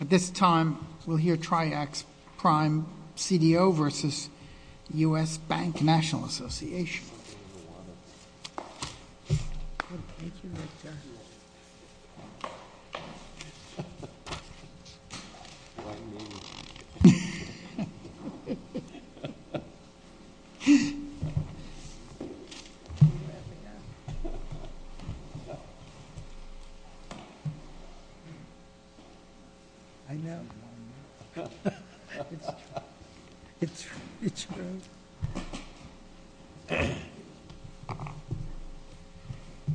At this time, we'll hear Triaxx Prime CDO versus U.S. Bank National Association.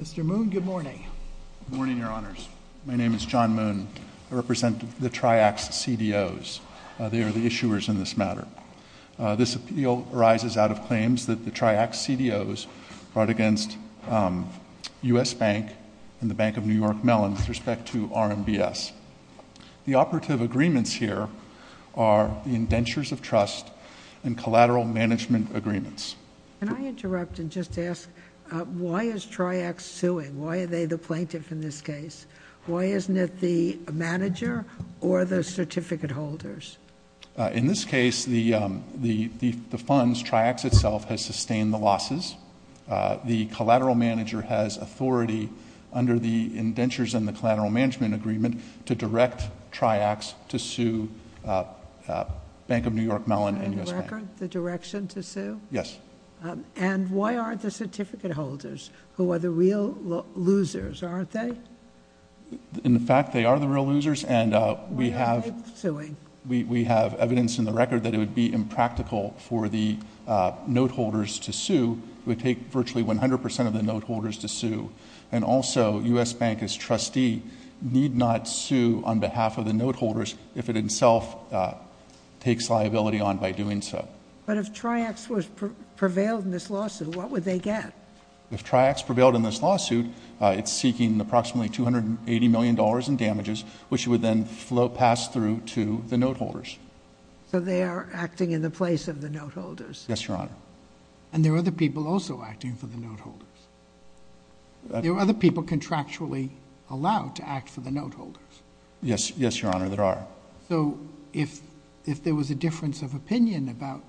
Mr. Moon, good morning. Good morning, Your Honors. My name is John Moon. I represent the Triaxx CDOs. They are the issuers in this matter. This appeal arises out of claims that the Triaxx CDOs brought against U.S. Bank and the Bank of New York Mellon with respect to RMBS. The operative agreements here are indentures of trust and collateral management agreements. Can I interrupt and just ask, why is Triaxx suing? Why are they the plaintiff in this case? Why isn't it the manager or the certificate holders? In this case, the funds, Triaxx itself, has sustained the losses. The collateral manager has authority under the indentures and the collateral management agreement to direct Triaxx to sue Bank of New York Mellon and U.S. Bank. Is that in the record, the direction to sue? Yes. And why aren't the certificate holders, who are the real losers, aren't they? In fact, they are the real losers, and we have Why aren't they suing? We have evidence in the record that it would be impractical for the note holders to sue. It would take virtually 100% of the note holders to sue. And also, U.S. Bank, as trustee, need not sue on behalf of the note holders if it itself takes liability on by doing so. But if Triaxx was prevailed in this lawsuit, what would they get? If Triaxx prevailed in this lawsuit, it's seeking approximately $280 million in damages, which would then pass through to the note holders. So they are acting in the place of the note holders. Yes, Your Honor. And there are other people also acting for the note holders. There are other people contractually allowed to act for the note holders. Yes, Your Honor, there are. So if there was a difference of opinion about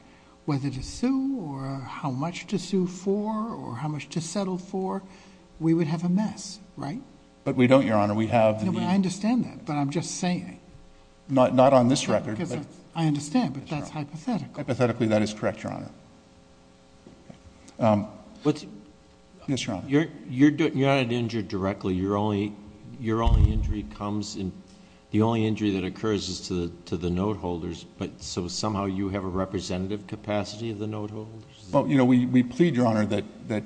whether to sue or how much to sue for or how much to settle for, we would have a mess, right? But we don't, Your Honor. I understand that, but I'm just saying. Not on this record. I understand, but that's hypothetical. Hypothetically, that is correct, Your Honor. Yes, Your Honor. Your Honor, you're not injured directly. Your only injury comes in, the only injury that occurs is to the note holders, but so somehow you have a representative capacity of the note holders? Well, you know, we plead, Your Honor, that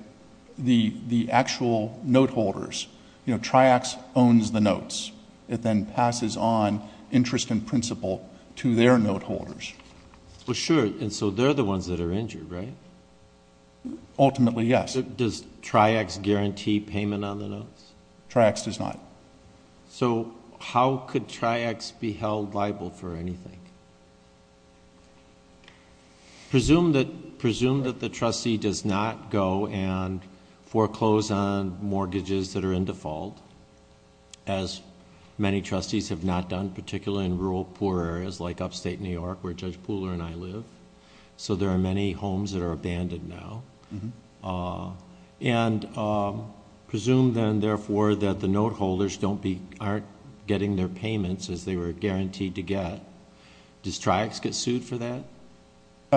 the actual note holders, you know, Triaxx owns the notes. It then passes on interest in principle to their note holders. Well, sure, and so they're the ones that are injured, right? Ultimately, yes. Does Triaxx guarantee payment on the notes? Triaxx does not. So how could Triaxx be held liable for anything? Presume that the trustee does not go and foreclose on mortgages that are in default, as many trustees have not done, particularly in rural poor areas like upstate New York, where Judge Pooler and I live. So there are many homes that are abandoned now. And presume then, therefore, that the note holders aren't getting their payments as they were guaranteed to get. Does Triaxx get sued for that?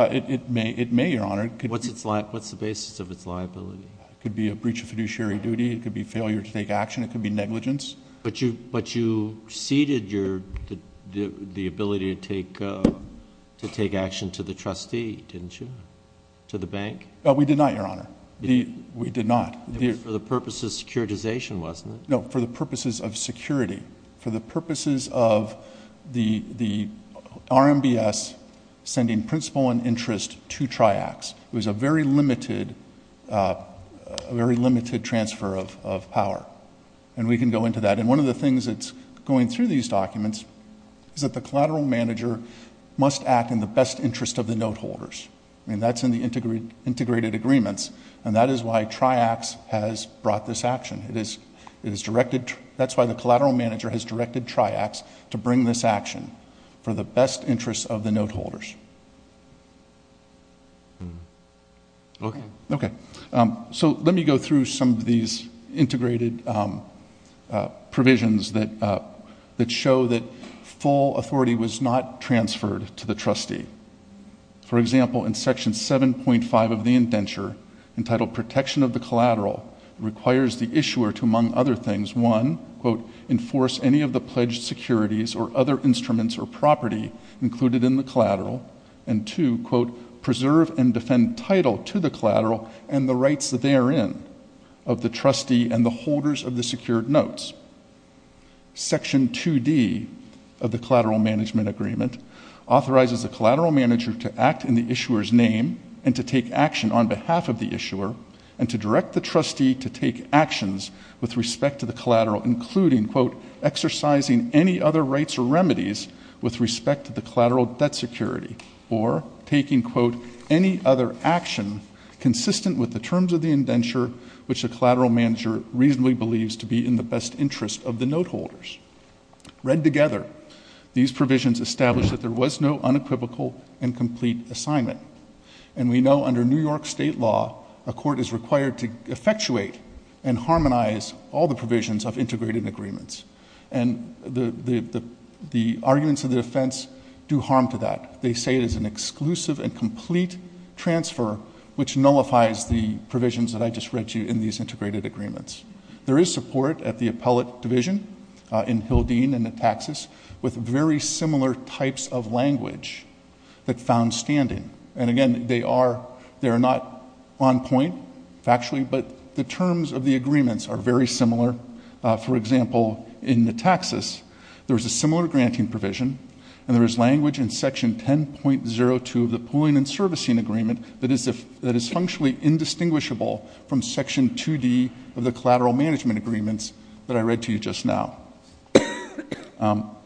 It may, Your Honor. What's the basis of its liability? It could be a breach of fiduciary duty. It could be failure to take action. It could be negligence. But you ceded the ability to take action to the trustee, didn't you, to the bank? We did not, Your Honor. We did not. It was for the purposes of securitization, wasn't it? No, for the purposes of security, for the purposes of the RMBS sending principle and interest to Triaxx. It was a very limited transfer of power. And we can go into that. And one of the things that's going through these documents is that the collateral manager must act in the best interest of the note holders. I mean, that's in the integrated agreements, and that is why Triaxx has brought this action. It is directed to ‑‑ that's why the collateral manager has directed Triaxx to bring this action for the best interest of the note holders. Okay. Okay. So let me go through some of these integrated provisions that show that full authority was not transferred to the trustee. For example, in Section 7.5 of the indenture, entitled Protection of the Collateral, requires the issuer to, among other things, one, quote, enforce any of the pledged securities or other instruments or property included in the collateral, and two, quote, preserve and defend title to the collateral and the rights therein of the trustee and the holders of the secured notes. Section 2D of the Collateral Management Agreement authorizes the collateral manager to act in the issuer's name and to take action on behalf of the issuer and to direct the trustee to take actions with respect to the collateral, including, quote, exercising any other rights or remedies with respect to the collateral debt security, or taking, quote, any other action consistent with the terms of the indenture which the collateral manager reasonably believes to be in the best interest of the note holders. Read together, these provisions establish that there was no unequivocal and complete assignment, and we know under New York State law, a court is required to effectuate and harmonize all the provisions of integrated agreements, and the arguments of the defense do harm to that. They say it is an exclusive and complete transfer which nullifies the provisions that I just read to you in these integrated agreements. There is support at the appellate division in Hildeen and at Texas with very similar types of language that found standing. And again, they are not on point factually, but the terms of the agreements are very similar. For example, in the Texas, there is a similar granting provision, and there is language in Section 10.02 of the Pooling and Servicing Agreement that is functionally indistinguishable from Section 2D of the Collateral Management Agreements that I read to you just now.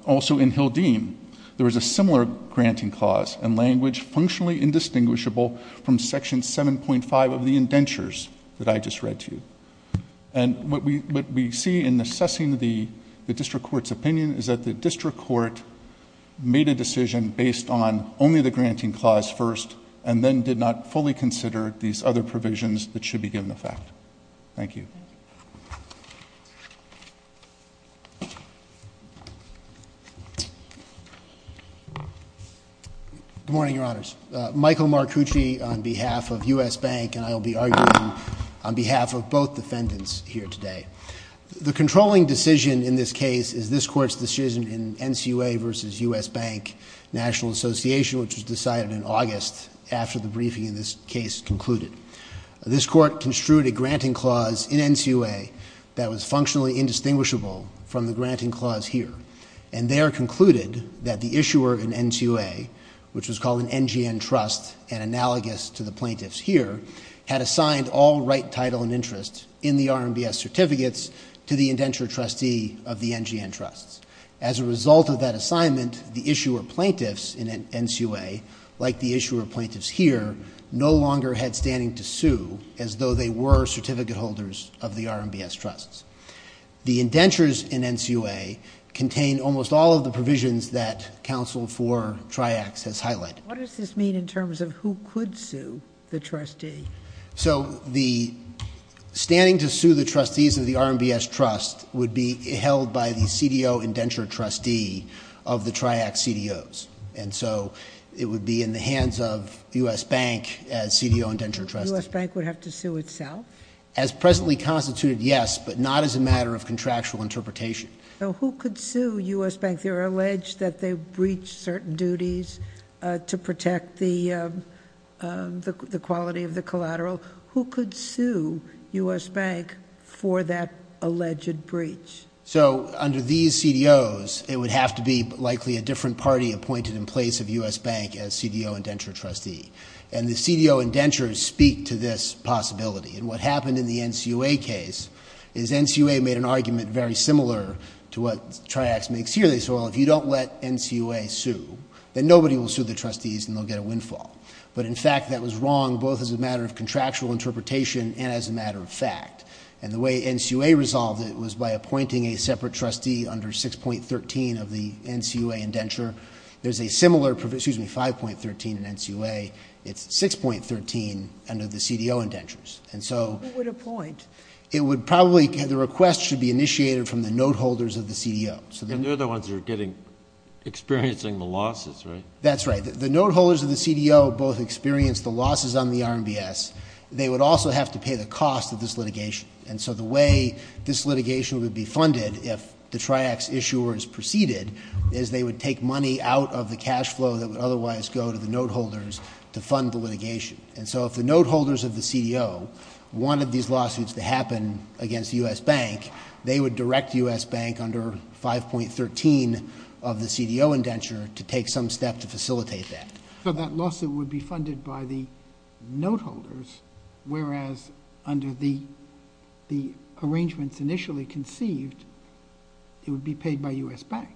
Also in Hildeen, there was a similar granting clause and language functionally indistinguishable from Section 7.5 of the Indentures that I just read to you. And what we see in assessing the district court's opinion is that the district court made a decision based on only the granting clause first and then did not fully consider these other provisions that should be given effect. Thank you. Good morning, Your Honors. Michael Marcucci on behalf of U.S. Bank, and I will be arguing on behalf of both defendants here today. The controlling decision in this case is this Court's decision in NCUA v. U.S. Bank National Association, which was decided in August after the briefing in this case concluded. This Court construed a granting clause in NCUA that was functionally indistinguishable from the granting clause here, and there concluded that the issuer in NCUA, which was called an NGN trust and analogous to the plaintiffs here, had assigned all right, title, and interest in the RMBS certificates to the indenture trustee of the NGN trusts. As a result of that assignment, the issuer plaintiffs in NCUA, like the issuer plaintiffs here, no longer had standing to sue as though they were certificate holders of the RMBS trusts. The indentures in NCUA contain almost all of the provisions that counsel for TRIACS has highlighted. What does this mean in terms of who could sue the trustee? So the standing to sue the trustees of the RMBS trust would be held by the CDO indenture trustee of the TRIACS CDOs, and so it would be in the hands of U.S. Bank as CDO indenture trustee. U.S. Bank would have to sue itself? As presently constituted, yes, but not as a matter of contractual interpretation. So who could sue U.S. Bank? They're alleged that they breached certain duties to protect the quality of the collateral. Who could sue U.S. Bank for that alleged breach? So under these CDOs, it would have to be likely a different party appointed in place of U.S. Bank as CDO indenture trustee, and the CDO indentures speak to this possibility, and what happened in the NCUA case is NCUA made an argument very similar to what TRIACS makes here. They said, well, if you don't let NCUA sue, then nobody will sue the trustees and they'll get a windfall, but in fact that was wrong both as a matter of contractual interpretation and as a matter of fact, and the way NCUA resolved it was by appointing a separate trustee under 6.13 of the NCUA indenture. There's a similar, excuse me, 5.13 in NCUA. It's 6.13 under the CDO indentures, and so. Who would appoint? It would probably, the request should be initiated from the note holders of the CDO. And they're the ones who are getting, experiencing the losses, right? That's right. The note holders of the CDO both experienced the losses on the RMBS. They would also have to pay the cost of this litigation, and so the way this litigation would be funded if the TRIACS issuers proceeded is they would take money out of the cash flow that would otherwise go to the note holders to fund the litigation. And so if the note holders of the CDO wanted these lawsuits to happen against the U.S. Bank, they would direct the U.S. Bank under 5.13 of the CDO indenture to take some step to facilitate that. So that lawsuit would be funded by the note holders, whereas under the arrangements initially conceived, it would be paid by U.S. Bank.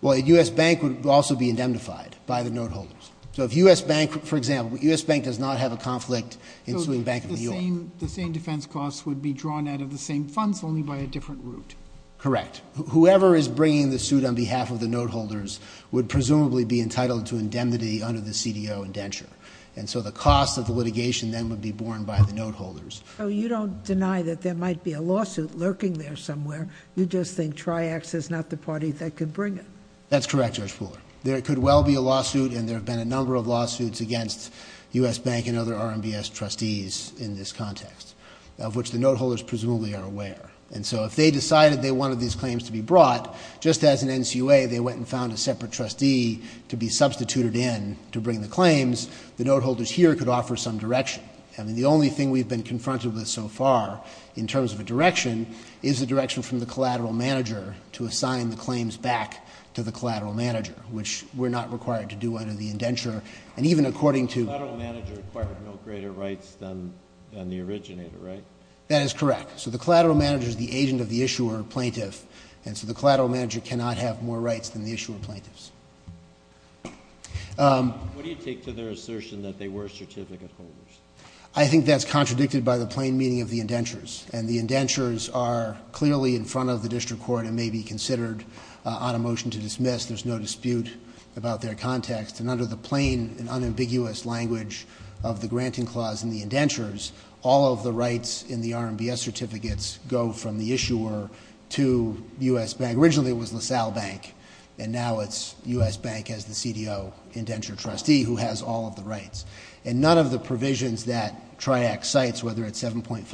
Well, U.S. Bank would also be indemnified by the note holders. So if U.S. Bank, for example, U.S. Bank does not have a conflict ensuing Bank of New York. So the same defense costs would be drawn out of the same funds, only by a different route. Correct. Whoever is bringing the suit on behalf of the note holders would presumably be entitled to indemnity under the CDO indenture. And so the cost of the litigation then would be borne by the note holders. So you don't deny that there might be a lawsuit lurking there somewhere. You just think TRIACS is not the party that could bring it. That's correct, Judge Fuller. There could well be a lawsuit, and there have been a number of lawsuits against U.S. Bank and other RMBS trustees in this context, of which the note holders presumably are aware. And so if they decided they wanted these claims to be brought, just as in NCUA, they went and found a separate trustee to be substituted in to bring the claims, the note holders here could offer some direction. I mean, the only thing we've been confronted with so far, in terms of a direction, is a direction from the collateral manager to assign the claims back to the collateral manager, which we're not required to do under the indenture. And even according to— The collateral manager acquired no greater rights than the originator, right? That is correct. So the collateral manager is the agent of the issuer or plaintiff, and so the collateral manager cannot have more rights than the issuer or plaintiffs. What do you take to their assertion that they were certificate holders? I think that's contradicted by the plain meaning of the indentures, and the indentures are clearly in front of the district court and may be considered on a motion to dismiss. There's no dispute about their context. And under the plain and unambiguous language of the granting clause in the indentures, all of the rights in the RMBS certificates go from the issuer to U.S. Bank. Originally it was LaSalle Bank, and now it's U.S. Bank as the CDO indenture trustee who has all of the rights. And none of the provisions that TRIAC cites, whether it's 7.5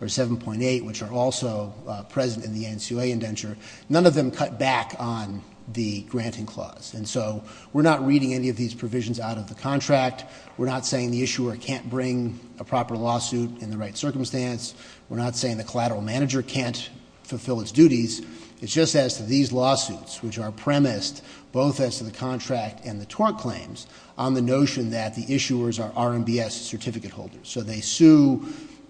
or 7.8, which are also present in the ANSUA indenture, none of them cut back on the granting clause. And so we're not reading any of these provisions out of the contract. We're not saying the issuer can't bring a proper lawsuit in the right circumstance. We're not saying the collateral manager can't fulfill its duties. It's just as to these lawsuits, which are premised both as to the contract and the tort claims, on the notion that the issuers are RMBS certificate holders. So they sue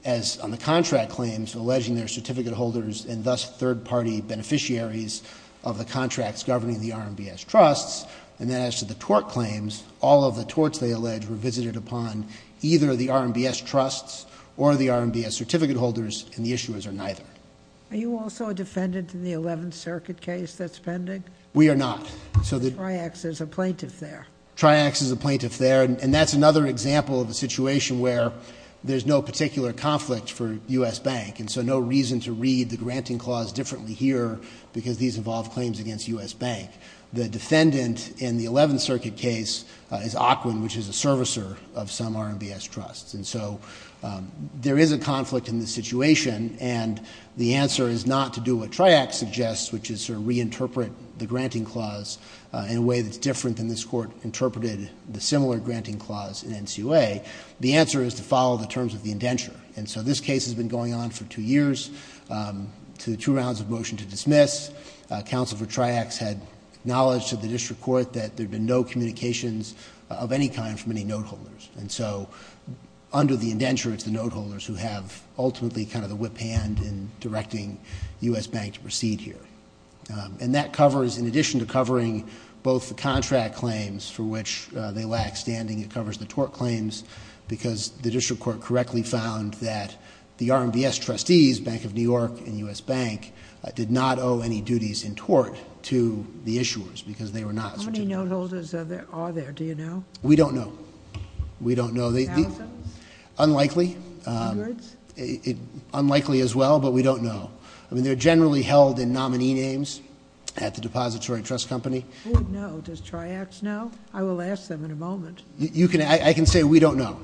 as on the contract claims alleging they're certificate holders, and thus third-party beneficiaries of the contracts governing the RMBS trusts. And then as to the tort claims, all of the torts they allege were visited upon either the RMBS trusts or the RMBS certificate holders, and the issuers are neither. Are you also a defendant in the 11th Circuit case that's pending? We are not. So the- TRIAC is a plaintiff there. TRIAC is a plaintiff there, and that's another example of a situation where there's no particular conflict for U.S. Bank. And so no reason to read the granting clause differently here, because these involve claims against U.S. Bank. The defendant in the 11th Circuit case is Ockwin, which is a servicer of some RMBS trusts. And so there is a conflict in this situation, and the answer is not to do what TRIAC suggests, which is to reinterpret the granting clause in a way that's different than this Court interpreted the similar granting clause in NCUA. The answer is to follow the terms of the indenture. And so this case has been going on for two years, to two rounds of motion to dismiss. Counsel for TRIACs had knowledge to the district court that there had been no communications of any kind from any note holders. And so under the indenture, it's the note holders who have ultimately kind of the whip hand in directing U.S. Bank to proceed here. And that covers, in addition to covering both the contract claims for which they lack standing, it covers the tort claims because the district court correctly found that the RMBS trustees, Bank of New York and U.S. Bank, did not owe any duties in tort to the issuers because they were not a certificate holder. How many note holders are there? Do you know? We don't know. We don't know. Thousands? Unlikely. Hundreds? Unlikely as well, but we don't know. I mean, they're generally held in nominee names at the depository trust company. Who would know? Does TRIACs know? I will ask them in a moment. I can say we don't know.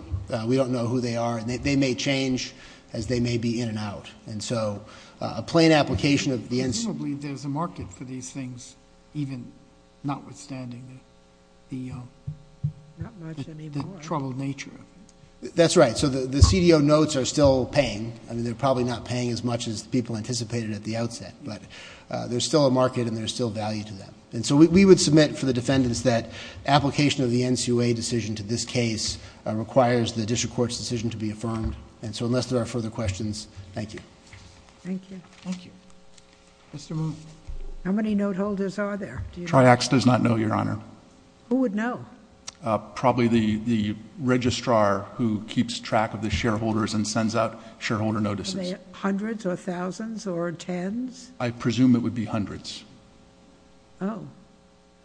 We don't know who they are, and they may change as they may be in and out. And so a plain application of the- Presumably there's a market for these things, even notwithstanding the troubled nature of it. That's right. So the CDO notes are still paying. I mean, they're probably not paying as much as people anticipated at the outset, but there's still a market and there's still value to them. And so we would submit for the defendants that application of the NCOA decision to this case requires the district court's decision to be affirmed. And so unless there are further questions, thank you. Thank you. Thank you. Mr. Moon. How many note holders are there? TRIACs does not know, Your Honor. Who would know? Probably the registrar who keeps track of the shareholders and sends out shareholder notices. Are they hundreds or thousands or tens? I presume it would be hundreds. Oh.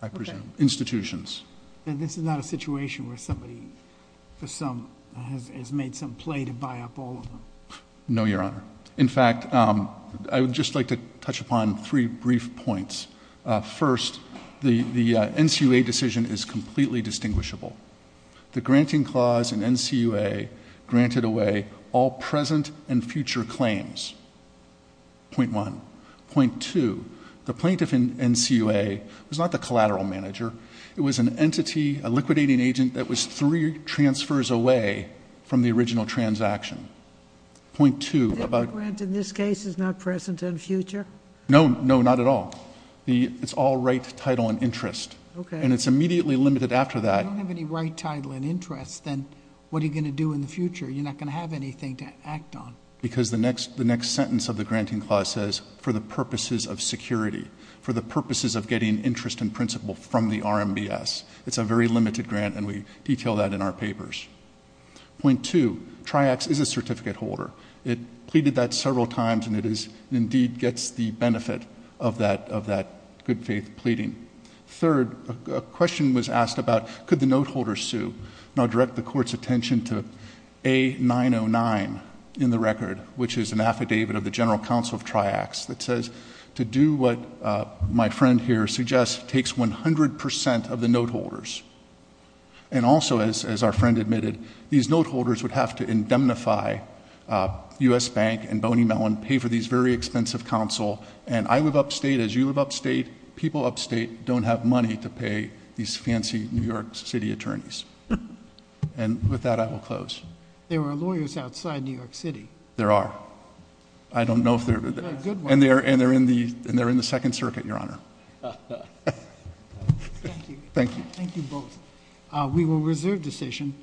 I presume. Institutions. And this is not a situation where somebody has made some play to buy up all of them? No, Your Honor. In fact, I would just like to touch upon three brief points. First, the NCOA decision is completely distinguishable. The granting clause in NCOA granted away all present and future claims, point one. Point two, the plaintiff in NCOA was not the collateral manager. It was an entity, a liquidating agent that was three transfers away from the original transaction. Point two. The grant in this case is not present and future? No. No, not at all. It's all right, title, and interest. Okay. And it's immediately limited after that. If you don't have any right, title, and interest, then what are you going to do in the future? You're not going to have anything to act on. Because the next sentence of the granting clause says, for the purposes of security, for the purposes of getting interest in principle from the RMBS. It's a very limited grant, and we detail that in our papers. Point two. Triax is a certificate holder. It pleaded that several times, and it indeed gets the benefit of that good faith pleading. Third, a question was asked about could the note holder sue? And I'll direct the court's attention to A909 in the record, which is an affidavit of the general counsel of Triax that says, to do what my friend here suggests takes 100% of the note holders. And also, as our friend admitted, these note holders would have to indemnify U.S. Bank and Boney Mellon, pay for these very expensive counsel, and I live upstate as you live upstate. People upstate don't have money to pay these fancy New York City attorneys. And with that, I will close. There are lawyers outside New York City. There are. I don't know if there are. And they're in the Second Circuit, Your Honor. Thank you. Thank you. Thank you both. We will reserve the session.